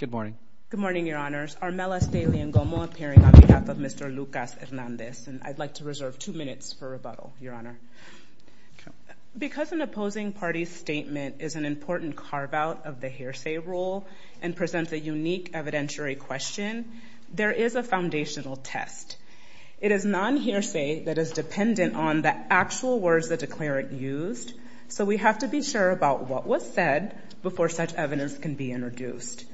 Good morning. Good morning, Your Honors. Armelas Daly and Gomo appearing on behalf of Mr. Lucas-Hernandez. And I'd like to reserve two minutes for rebuttal, Your Honor. Because an opposing party's statement is an important carve-out of the hearsay rule and presents a unique evidentiary question, there is a foundational test. It is non-hearsay that is dependent on the actual words the declarant used, so we have to be sure about what was said before such evidence can be introduced.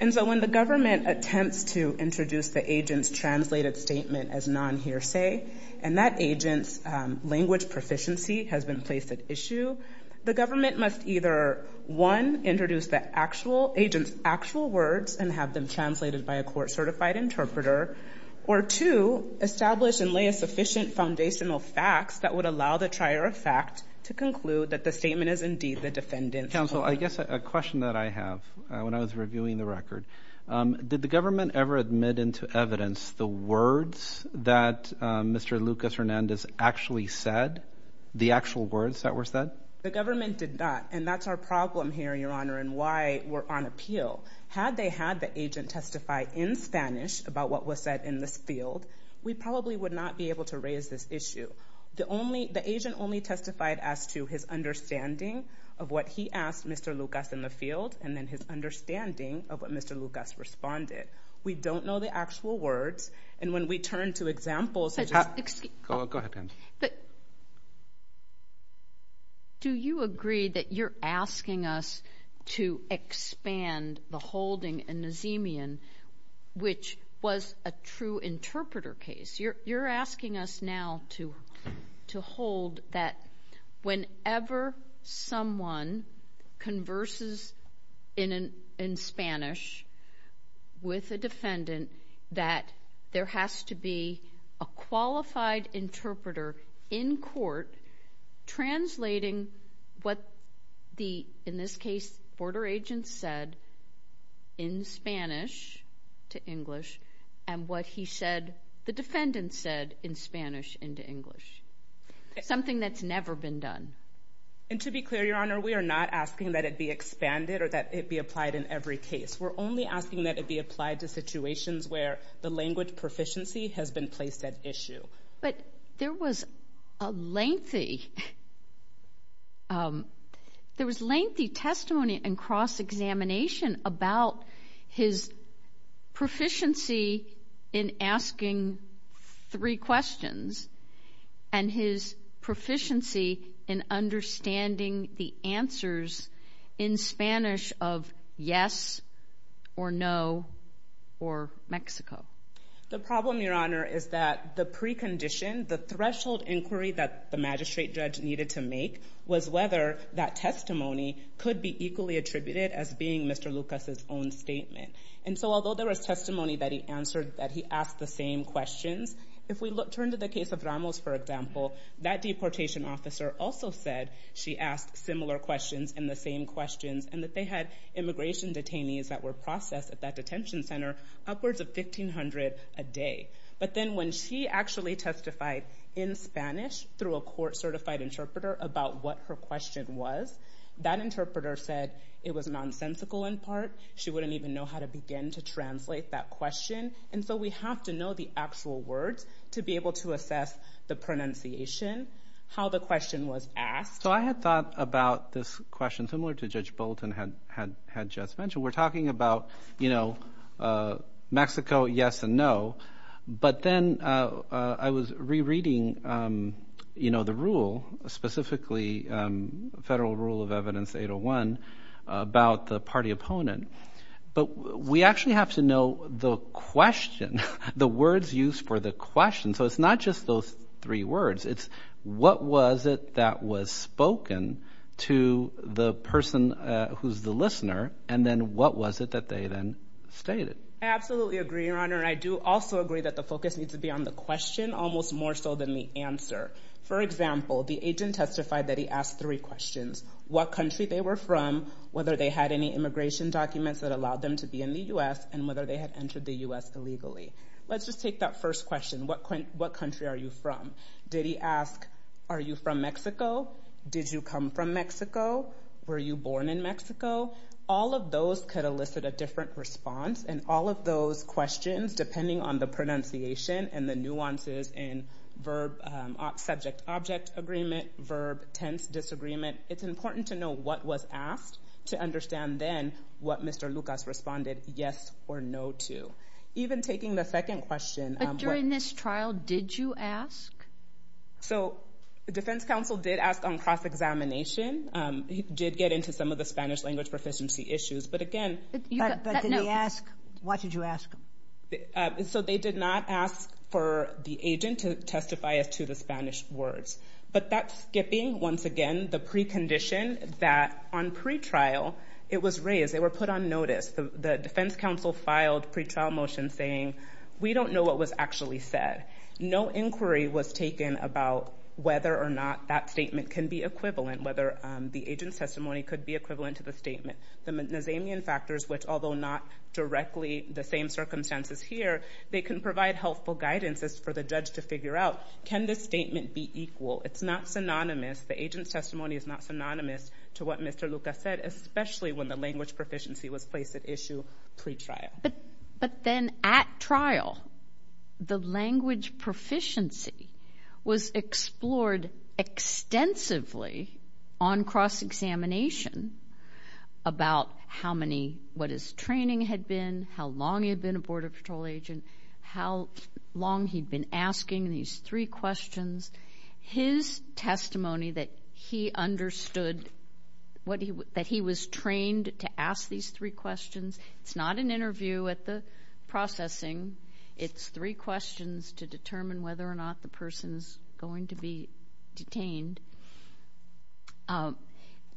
And so when the government attempts to introduce the agent's translated statement as non-hearsay and that agent's language proficiency has been placed at issue, the government must either, one, introduce the agent's actual words and have them translated by a court-certified interpreter, or two, establish and lay a sufficient foundational facts that would allow the trier of fact to conclude that the statement is indeed the defendant's claim. Counsel, I guess a question that I have when I was reviewing the record, did the government ever admit into evidence the words that Mr. Lucas-Hernandez actually said, the actual words that were said? The government did not, and that's our problem here, Your Honor, and why we're on appeal. Had they had the agent testify in Spanish about what was said in this field, we probably would not be able to raise this issue. The agent only testified as to his understanding of what he asked Mr. Lucas in the field and then his understanding of what Mr. Lucas responded. We don't know the actual words, and when we turn to examples... The holding in Nazemian, which was a true interpreter case. You're asking us now to hold that whenever someone converses in Spanish with a defendant that there has to be a qualified interpreter in court translating what the, in this case, border agent said in Spanish to English and what he said, the defendant said in Spanish into English. Something that's never been done. And to be clear, Your Honor, we are not asking that it be expanded or that it be applied in every case. We're only asking that it be applied to situations where the language proficiency has been placed at issue. But there was a lengthy... There was lengthy testimony and cross-examination about his proficiency in asking three questions and his proficiency in understanding the answers in Spanish of yes or no or Mexico. The problem, Your Honor, is that the precondition, the threshold inquiry that the magistrate judge needed to make was whether that testimony could be equally attributed as being Mr. Lucas' own statement. And so although there was testimony that he answered, that he asked the same questions, if we turn to the case of Ramos, for example, that deportation officer also said she asked similar questions and the same questions and that they had immigration detainees that were processed at that detention center upwards of 1,500 a day. But then when she actually testified in Spanish through a court-certified interpreter about what her question was, that interpreter said it was nonsensical in part. She wouldn't even know how to begin to translate that question. And so we have to know the actual words to be able to assess the pronunciation, how the question was asked. So I had thought about this question similar to Judge Bolton had just mentioned. We're talking about Mexico, yes and no. But then I was rereading the rule, specifically Federal Rule of Evidence 801 about the party opponent. But we actually have to know the question, the words used for the question. So it's not just those three words. It's what was it that was spoken to the person who's the listener? And then what was it that they then stated? I absolutely agree, Your Honor. I do also agree that the focus needs to be on the question almost more so than the answer. For example, the agent testified that he asked three questions. What country they were from, whether they had any immigration documents that allowed them to be in the U.S., and whether they had entered the U.S. illegally. Let's just take that first question, what country are you from? Did he ask, are you from Mexico? Did you come from Mexico? Were you born in Mexico? All of those could elicit a different response. And all of those questions, depending on the pronunciation and the nuances in verb-subject-object agreement, verb-tense disagreement, it's important to know what was asked to understand then what Mr. Lucas responded yes or no to. Even taking the second question. But during this trial, did you ask? So the defense counsel did ask on cross-examination. He did get into some of the Spanish language proficiency issues, but again... So they did not ask for the agent to testify as to the Spanish words. But that's skipping, once again, the precondition that on pretrial it was raised. They were put on notice. The defense counsel filed pretrial motions saying, we don't know what was actually said. No inquiry was taken about whether or not that statement can be equivalent, whether the agent's testimony could be equivalent to the statement. The Nazamian factors, which although not directly the same circumstances here, they can provide helpful guidance for the judge to figure out, can this statement be equal? It's not synonymous. The agent's testimony is not synonymous to what Mr. Lucas said, especially when the language proficiency was placed at issue pretrial. But then at trial, the language proficiency was explored extensively on cross-examination about how many, what his training had been, how long he had been a Border Patrol agent, how long he'd been asking these three questions. His testimony that he understood, that he was trained to ask these three questions, it's not an interview at the processing. It's three questions to determine whether or not the person's going to be detained.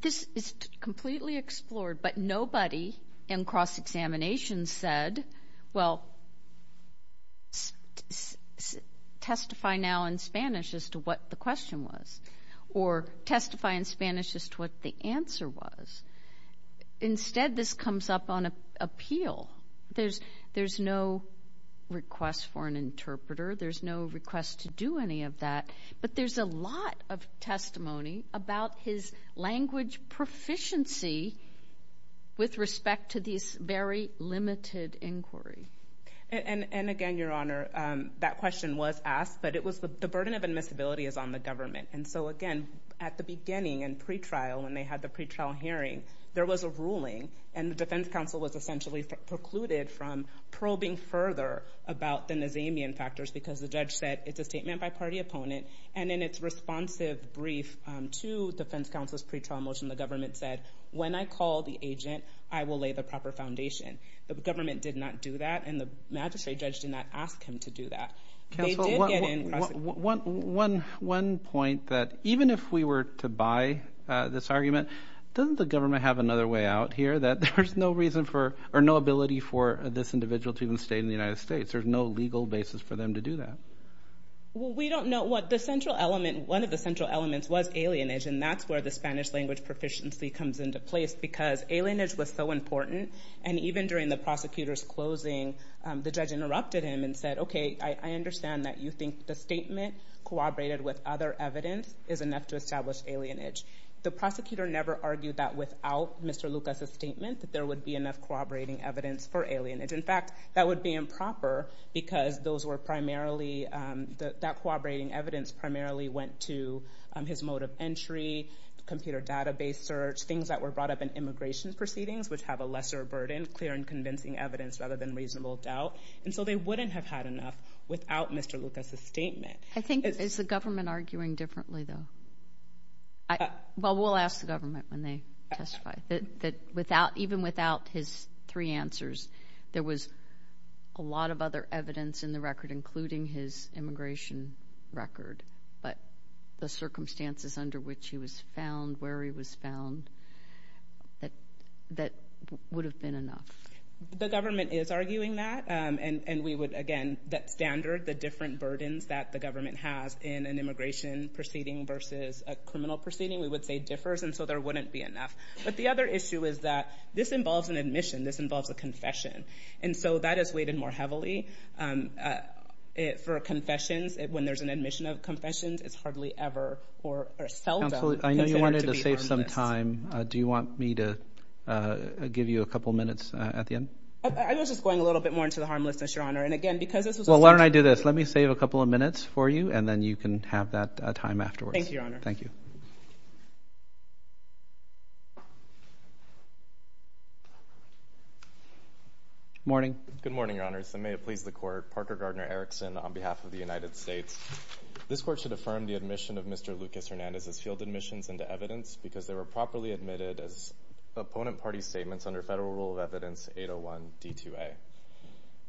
This is completely explored, but nobody in cross-examination said, well, testify now in Spanish as to what the question was, or testify in Spanish as to what the answer was. Instead, this comes up on appeal. There's no request for an interpreter. There's no request to do any of that. But there's a lot of testimony about his language proficiency with respect to these very limited inquiries. And again, Your Honor, that question was asked, but the burden of admissibility is on the government. And so, again, at the beginning in pretrial, when they had the pretrial hearing, there was a ruling, and the defense counsel was essentially precluded from probing further about the Nazamian factors because the judge said, it's a statement by party opponent. And in its responsive brief to defense counsel's pretrial motion, the government said, when I call the agent, I will lay the proper foundation. The government did not do that, and the magistrate judge did not ask him to do that. They did get in cross-examination. One point, that even if we were to buy this argument, doesn't the government have another way out here, that there's no reason for, or no ability for this individual to even stay in the United States? There's no legal basis for them to do that. Well, we don't know what the central element, one of the central elements was alienage, and that's where the Spanish language proficiency comes into place because alienage was so important. And even during the prosecutor's closing, the judge interrupted him and said, okay, I understand that you think the statement corroborated with other evidence is enough to establish alienage. The prosecutor never argued that without Mr. Lucas's statement, that there would be enough corroborating evidence for alienage. In fact, that would be improper because those were primarily, that corroborating evidence primarily went to his mode of entry, computer database search, things that were brought up in immigration proceedings which have a lesser burden, clear and convincing evidence rather than reasonable doubt. And so they wouldn't have had enough without Mr. Lucas's statement. I think, is the government arguing differently though? Well, we'll ask the government when they testify. Even without his three answers, there was a lot of other evidence in the record, including his immigration record, but the circumstances under which he was found, where he was found, that would have been enough. The government is arguing that, and we would, again, that standard, the different burdens that the government has in an immigration proceeding versus a criminal proceeding, we would say differs, and so there wouldn't be enough. But the other issue is that this involves an admission. This involves a confession. And so that is weighted more heavily for confessions. When there's an admission of confessions, it's hardly ever or seldom considered to be harmless. Counsel, I know you wanted to save some time. Do you want me to give you a couple minutes at the end? I was just going a little bit more into the harmlessness, Your Honor, and again, because this was a... Well, why don't I do this? Let me save a couple of minutes for you, and then you can have that time afterwards. Thank you, Your Honor. Thank you. Good morning. Good morning, Your Honors, and may it please the Court. Parker Gardner Erickson on behalf of the United States. This Court should affirm the admission of Mr. Lucas Hernandez's field admissions into evidence because they were properly admitted as opponent party statements under Federal Rule of Evidence 801D2A.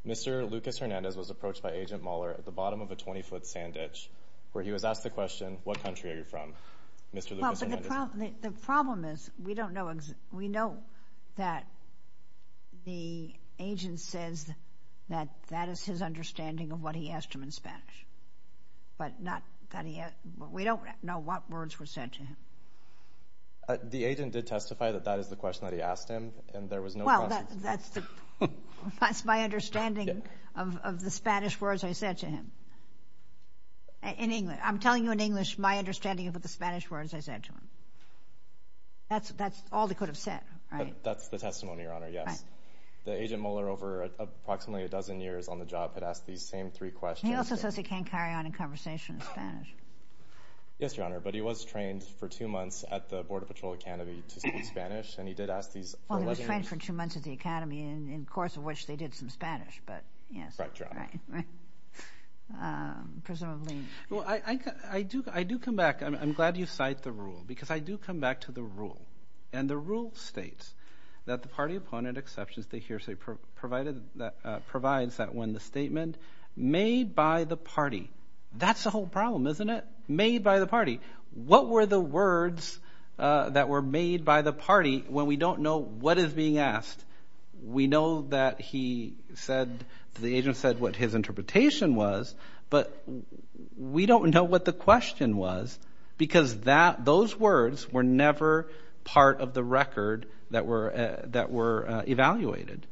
Mr. Lucas Hernandez was approached by Agent Mahler at the bottom of a 20-foot sand ditch where he was asked the question, What country are you from? Well, but the problem is we know that the agent says that that is his understanding of what he asked him in Spanish, but we don't know what words were said to him. The agent did testify that that is the question that he asked him, and there was no question. Well, that's my understanding of the Spanish words I said to him. In English. I'm telling you in English my understanding of what the Spanish words I said to him. That's all they could have said, right? That's the testimony, Your Honor, yes. The agent Mahler, over approximately a dozen years on the job, had asked these same three questions. He also says he can't carry on a conversation in Spanish. Yes, Your Honor, but he was trained for two months at the Border Patrol Academy to speak Spanish, and he did ask these questions. Well, he was trained for two months at the Academy, in the course of which they did some Spanish, but yes. Right, right. Presumably. Well, I do come back. I'm glad you cite the rule because I do come back to the rule, and the rule states that the party appointed exceptions to hearsay provides that when the statement, made by the party. That's the whole problem, isn't it? Made by the party. What were the words that were made by the party when we don't know what is being asked? We know that he said, the agent said what his interpretation was, but we don't know what the question was because those words were never part of the record that were evaluated.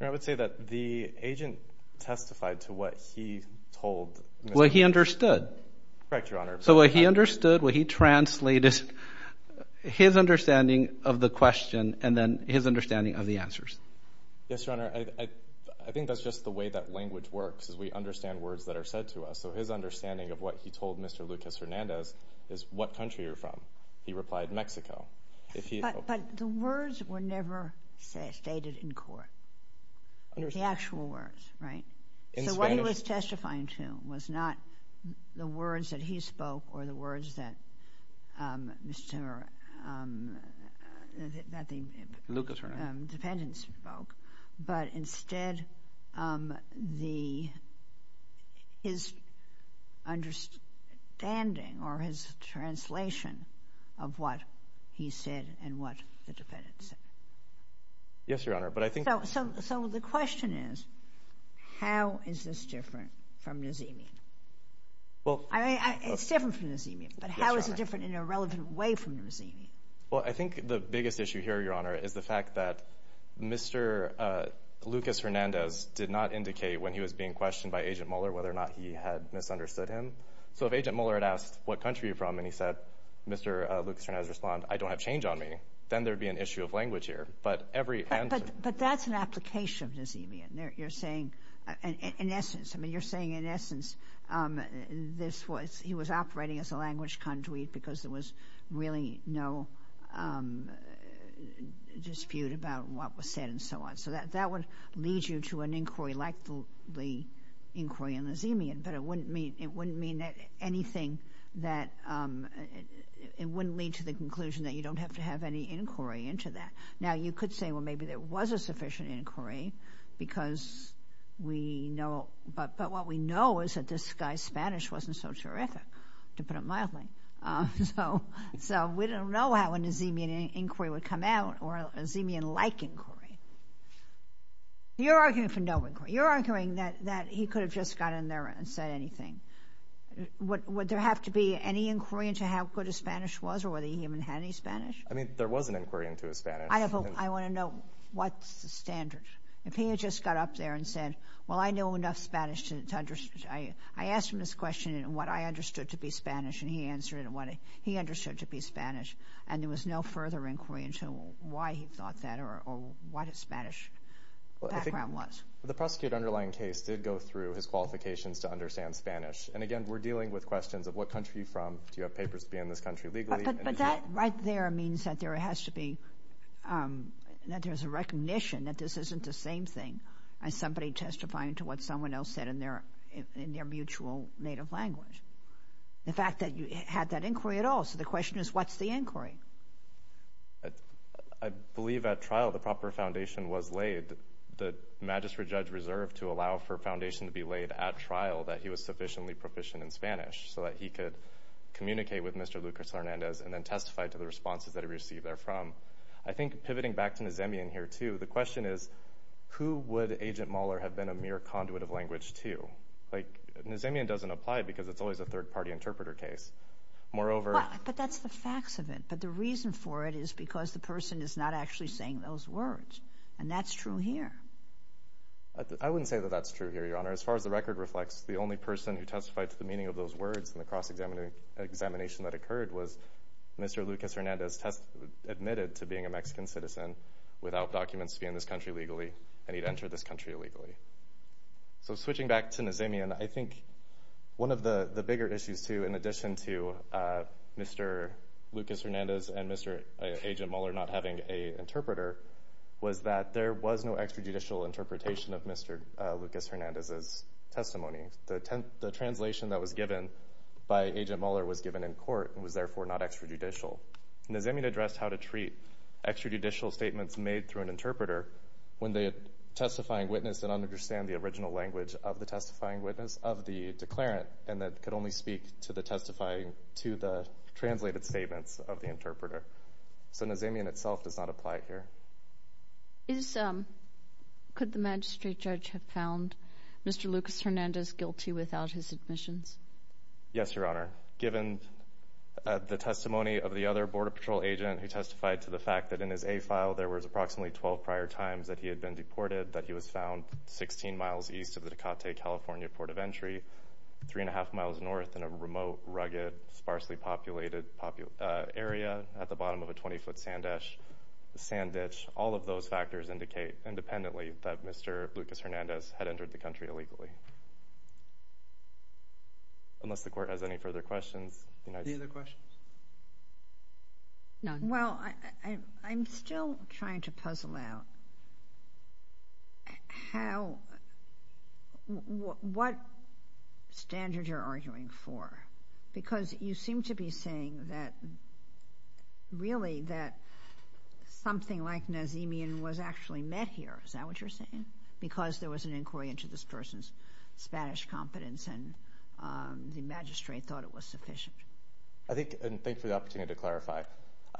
I would say that the agent testified to what he told. What he understood. Correct, Your Honor. So what he understood, what he translated, his understanding of the question and then his understanding of the answers. Yes, Your Honor. I think that's just the way that language works is we understand words that are said to us. So his understanding of what he told Mr. Lucas Hernandez is what country you're from. He replied, Mexico. But the words were never stated in court. It was the actual words, right? So what he was testifying to was not the words that he spoke or the words that Mr. Lucas Hernandez spoke, but instead his understanding or his translation of what he said and what the defendant said. Yes, Your Honor. So the question is, how is this different from Nazimi? I mean, it's different from Nazimi, but how is it different in a relevant way from Nazimi? Well, I think the biggest issue here, Your Honor, is the fact that Mr. Lucas Hernandez did not indicate when he was being questioned by Agent Mueller whether or not he had misunderstood him. So if Agent Mueller had asked what country you're from and he said, Mr. Lucas Hernandez responded, I don't have change on me, then there would be an issue of language here. But that's an application of Nazimi. You're saying, in essence, he was operating as a language conduit because there was really no dispute about what was said and so on. So that would lead you to an inquiry like the inquiry on Nazimi, but it wouldn't lead to the conclusion that you don't have to have any inquiry into that. Now, you could say, well, maybe there was a sufficient inquiry because we know... But what we know is that this guy's Spanish wasn't so terrific, to put it mildly. So we don't know how a Nazimian inquiry would come out or a Nazimian-like inquiry. You're arguing for no inquiry. You're arguing that he could have just got in there and said anything. Would there have to be any inquiry into how good his Spanish was or whether he even had any Spanish? I mean, there was an inquiry into his Spanish. I want to know, what's the standard? If he had just got up there and said, well, I know enough Spanish to understand... I asked him this question in what I understood to be Spanish and he answered it in what he understood to be Spanish, and there was no further inquiry into why he thought that or what his Spanish background was. The prosecuted underlying case did go through his qualifications to understand Spanish. And again, we're dealing with questions of what country you're from, do you have papers to be in this country legally... But that right there means that there has to be... that there's a recognition that this isn't the same thing as somebody testifying to what someone else said in their mutual native language. The fact that you had that inquiry at all. So the question is, what's the inquiry? I believe at trial the proper foundation was laid. The magistrate judge reserved to allow for a foundation to be laid at trial that he was sufficiently proficient in Spanish so that he could communicate with Mr. Lucas Hernandez and then testify to the responses that he received therefrom. I think pivoting back to Nazemian here too, the question is, who would Agent Mahler have been a mere conduit of language to? Nazemian doesn't apply because it's always a third-party interpreter case. Moreover... But that's the facts of it. But the reason for it is because the person is not actually saying those words. And that's true here. I wouldn't say that that's true here, Your Honor. As far as the record reflects, the only person who testified to the meaning of those words in the cross-examination that occurred was Mr. Lucas Hernandez admitted to being a Mexican citizen without documents to be in this country legally, and he'd enter this country illegally. So switching back to Nazemian, I think one of the bigger issues too, in addition to Mr. Lucas Hernandez and Mr. Agent Mahler not having an interpreter, was that there was no extrajudicial interpretation of Mr. Lucas Hernandez's testimony. The translation that was given by Agent Mahler was given in court and was therefore not extrajudicial. Nazemian addressed how to treat extrajudicial statements made through an interpreter when they had a testifying witness that didn't understand the original language of the testifying witness, of the declarant, and that could only speak to the translated statements of the interpreter. So Nazemian itself does not apply here. Could the magistrate judge have found Mr. Lucas Hernandez guilty without his admissions? Yes, Your Honor. Given the testimony of the other Border Patrol agent who testified to the fact that in his A-file there was approximately 12 prior times that he had been deported, that he was found 16 miles east of the Ducate, California, port of entry, 3 1⁄2 miles north in a remote, rugged, sparsely populated area at the bottom of a 20-foot sand ditch, all of those factors indicate independently that Mr. Lucas Hernandez had entered the country illegally. Unless the Court has any further questions. Any other questions? None. Well, I'm still trying to puzzle out what standard you're arguing for, because you seem to be saying that, really, that something like Nazemian was actually met here. Is that what you're saying? Because there was an inquiry into this person's Spanish competence and the magistrate thought it was sufficient. Thank you for the opportunity to clarify.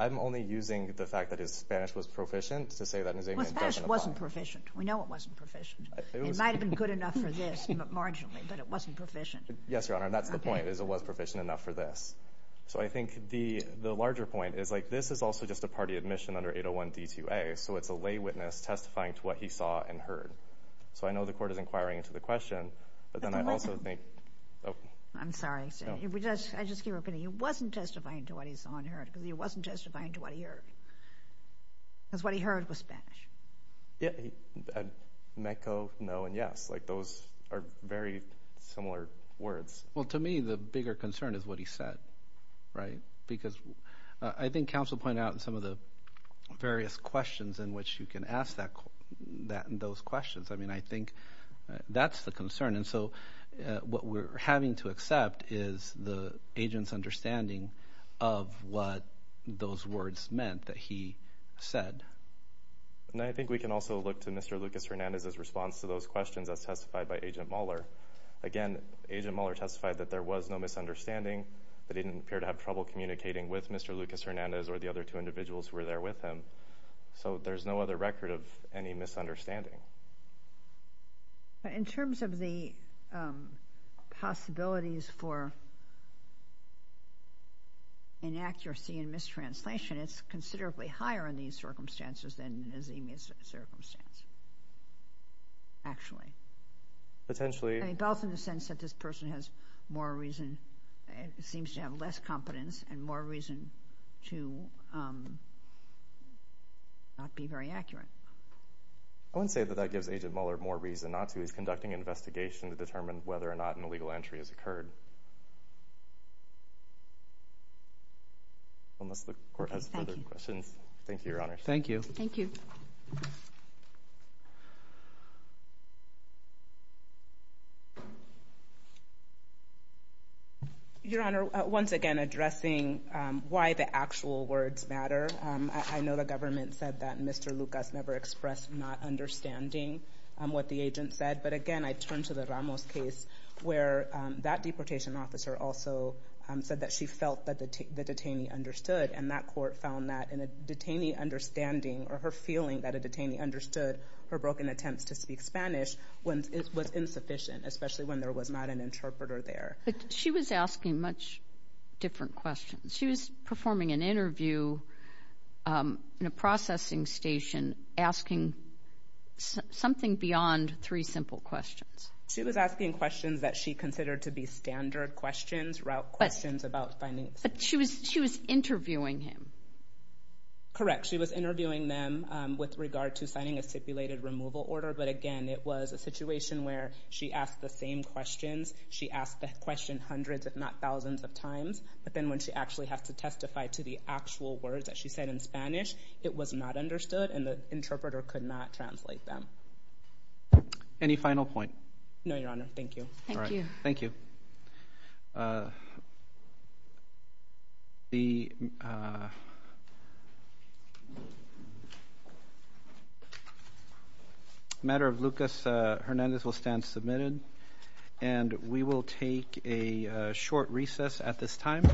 I'm only using the fact that his Spanish was proficient to say that Nazemian doesn't apply. His Spanish wasn't proficient. We know it wasn't proficient. It might have been good enough for this marginally, but it wasn't proficient. Yes, Your Honor, and that's the point, is it was proficient enough for this. So I think the larger point is this is also just a party admission under 801 D2A, so it's a lay witness testifying to what he saw and heard. So I know the Court is inquiring into the question, but then I also think... I'm sorry. I just keep repeating. He wasn't testifying to what he saw and heard because he wasn't testifying to what he heard. Because what he heard was Spanish. Yeah. Meco, no, and yes. Those are very similar words. Well, to me, the bigger concern is what he said, right? Because I think counsel pointed out in some of the various questions in which you can ask those questions. I mean, I think that's the concern. And so what we're having to accept is the agent's understanding of what those words meant that he said. And I think we can also look to Mr. Lucas Hernandez's response to those questions as testified by Agent Muller. Again, Agent Muller testified that there was no misunderstanding, that he didn't appear to have trouble communicating with Mr. Lucas Hernandez or the other two individuals who were there with him. So there's no other record of any misunderstanding. But in terms of the possibilities for inaccuracy and mistranslation, it's considerably higher in these circumstances than is in his circumstance, actually. Both in the sense that this person seems to have less competence and more reason to not be very accurate. I wouldn't say that that gives Agent Muller more reason not to. He's conducting an investigation to determine whether or not an illegal entry has occurred. Unless the Court has further questions. Thank you, Your Honor. Thank you. Thank you. Your Honor, once again, addressing why the actual words matter. I know the government said that Mr. Lucas never expressed not understanding what the agent said. But again, I turn to the Ramos case where that deportation officer also said that she felt that the detainee understood. And that court found that in a detainee understanding or her feeling that a detainee understood her broken attempts to speak Spanish was insufficient, especially when there was not an interpreter there. But she was asking much different questions. She was performing an interview in a processing station asking something beyond three simple questions. She was asking questions that she considered to be standard questions, questions about finding... But she was interviewing him. Correct. She was interviewing them with regard to signing a stipulated removal order. But again, it was a situation where she asked the same questions. She asked the question hundreds, if not thousands, of times. But then when she actually had to testify to the actual words that she said in Spanish, it was not understood, and the interpreter could not translate them. Any final point? No, Your Honor. Thank you. Thank you. Thank you. A matter of Lucas Hernandez will stand submitted. And we will take a short recess at this time.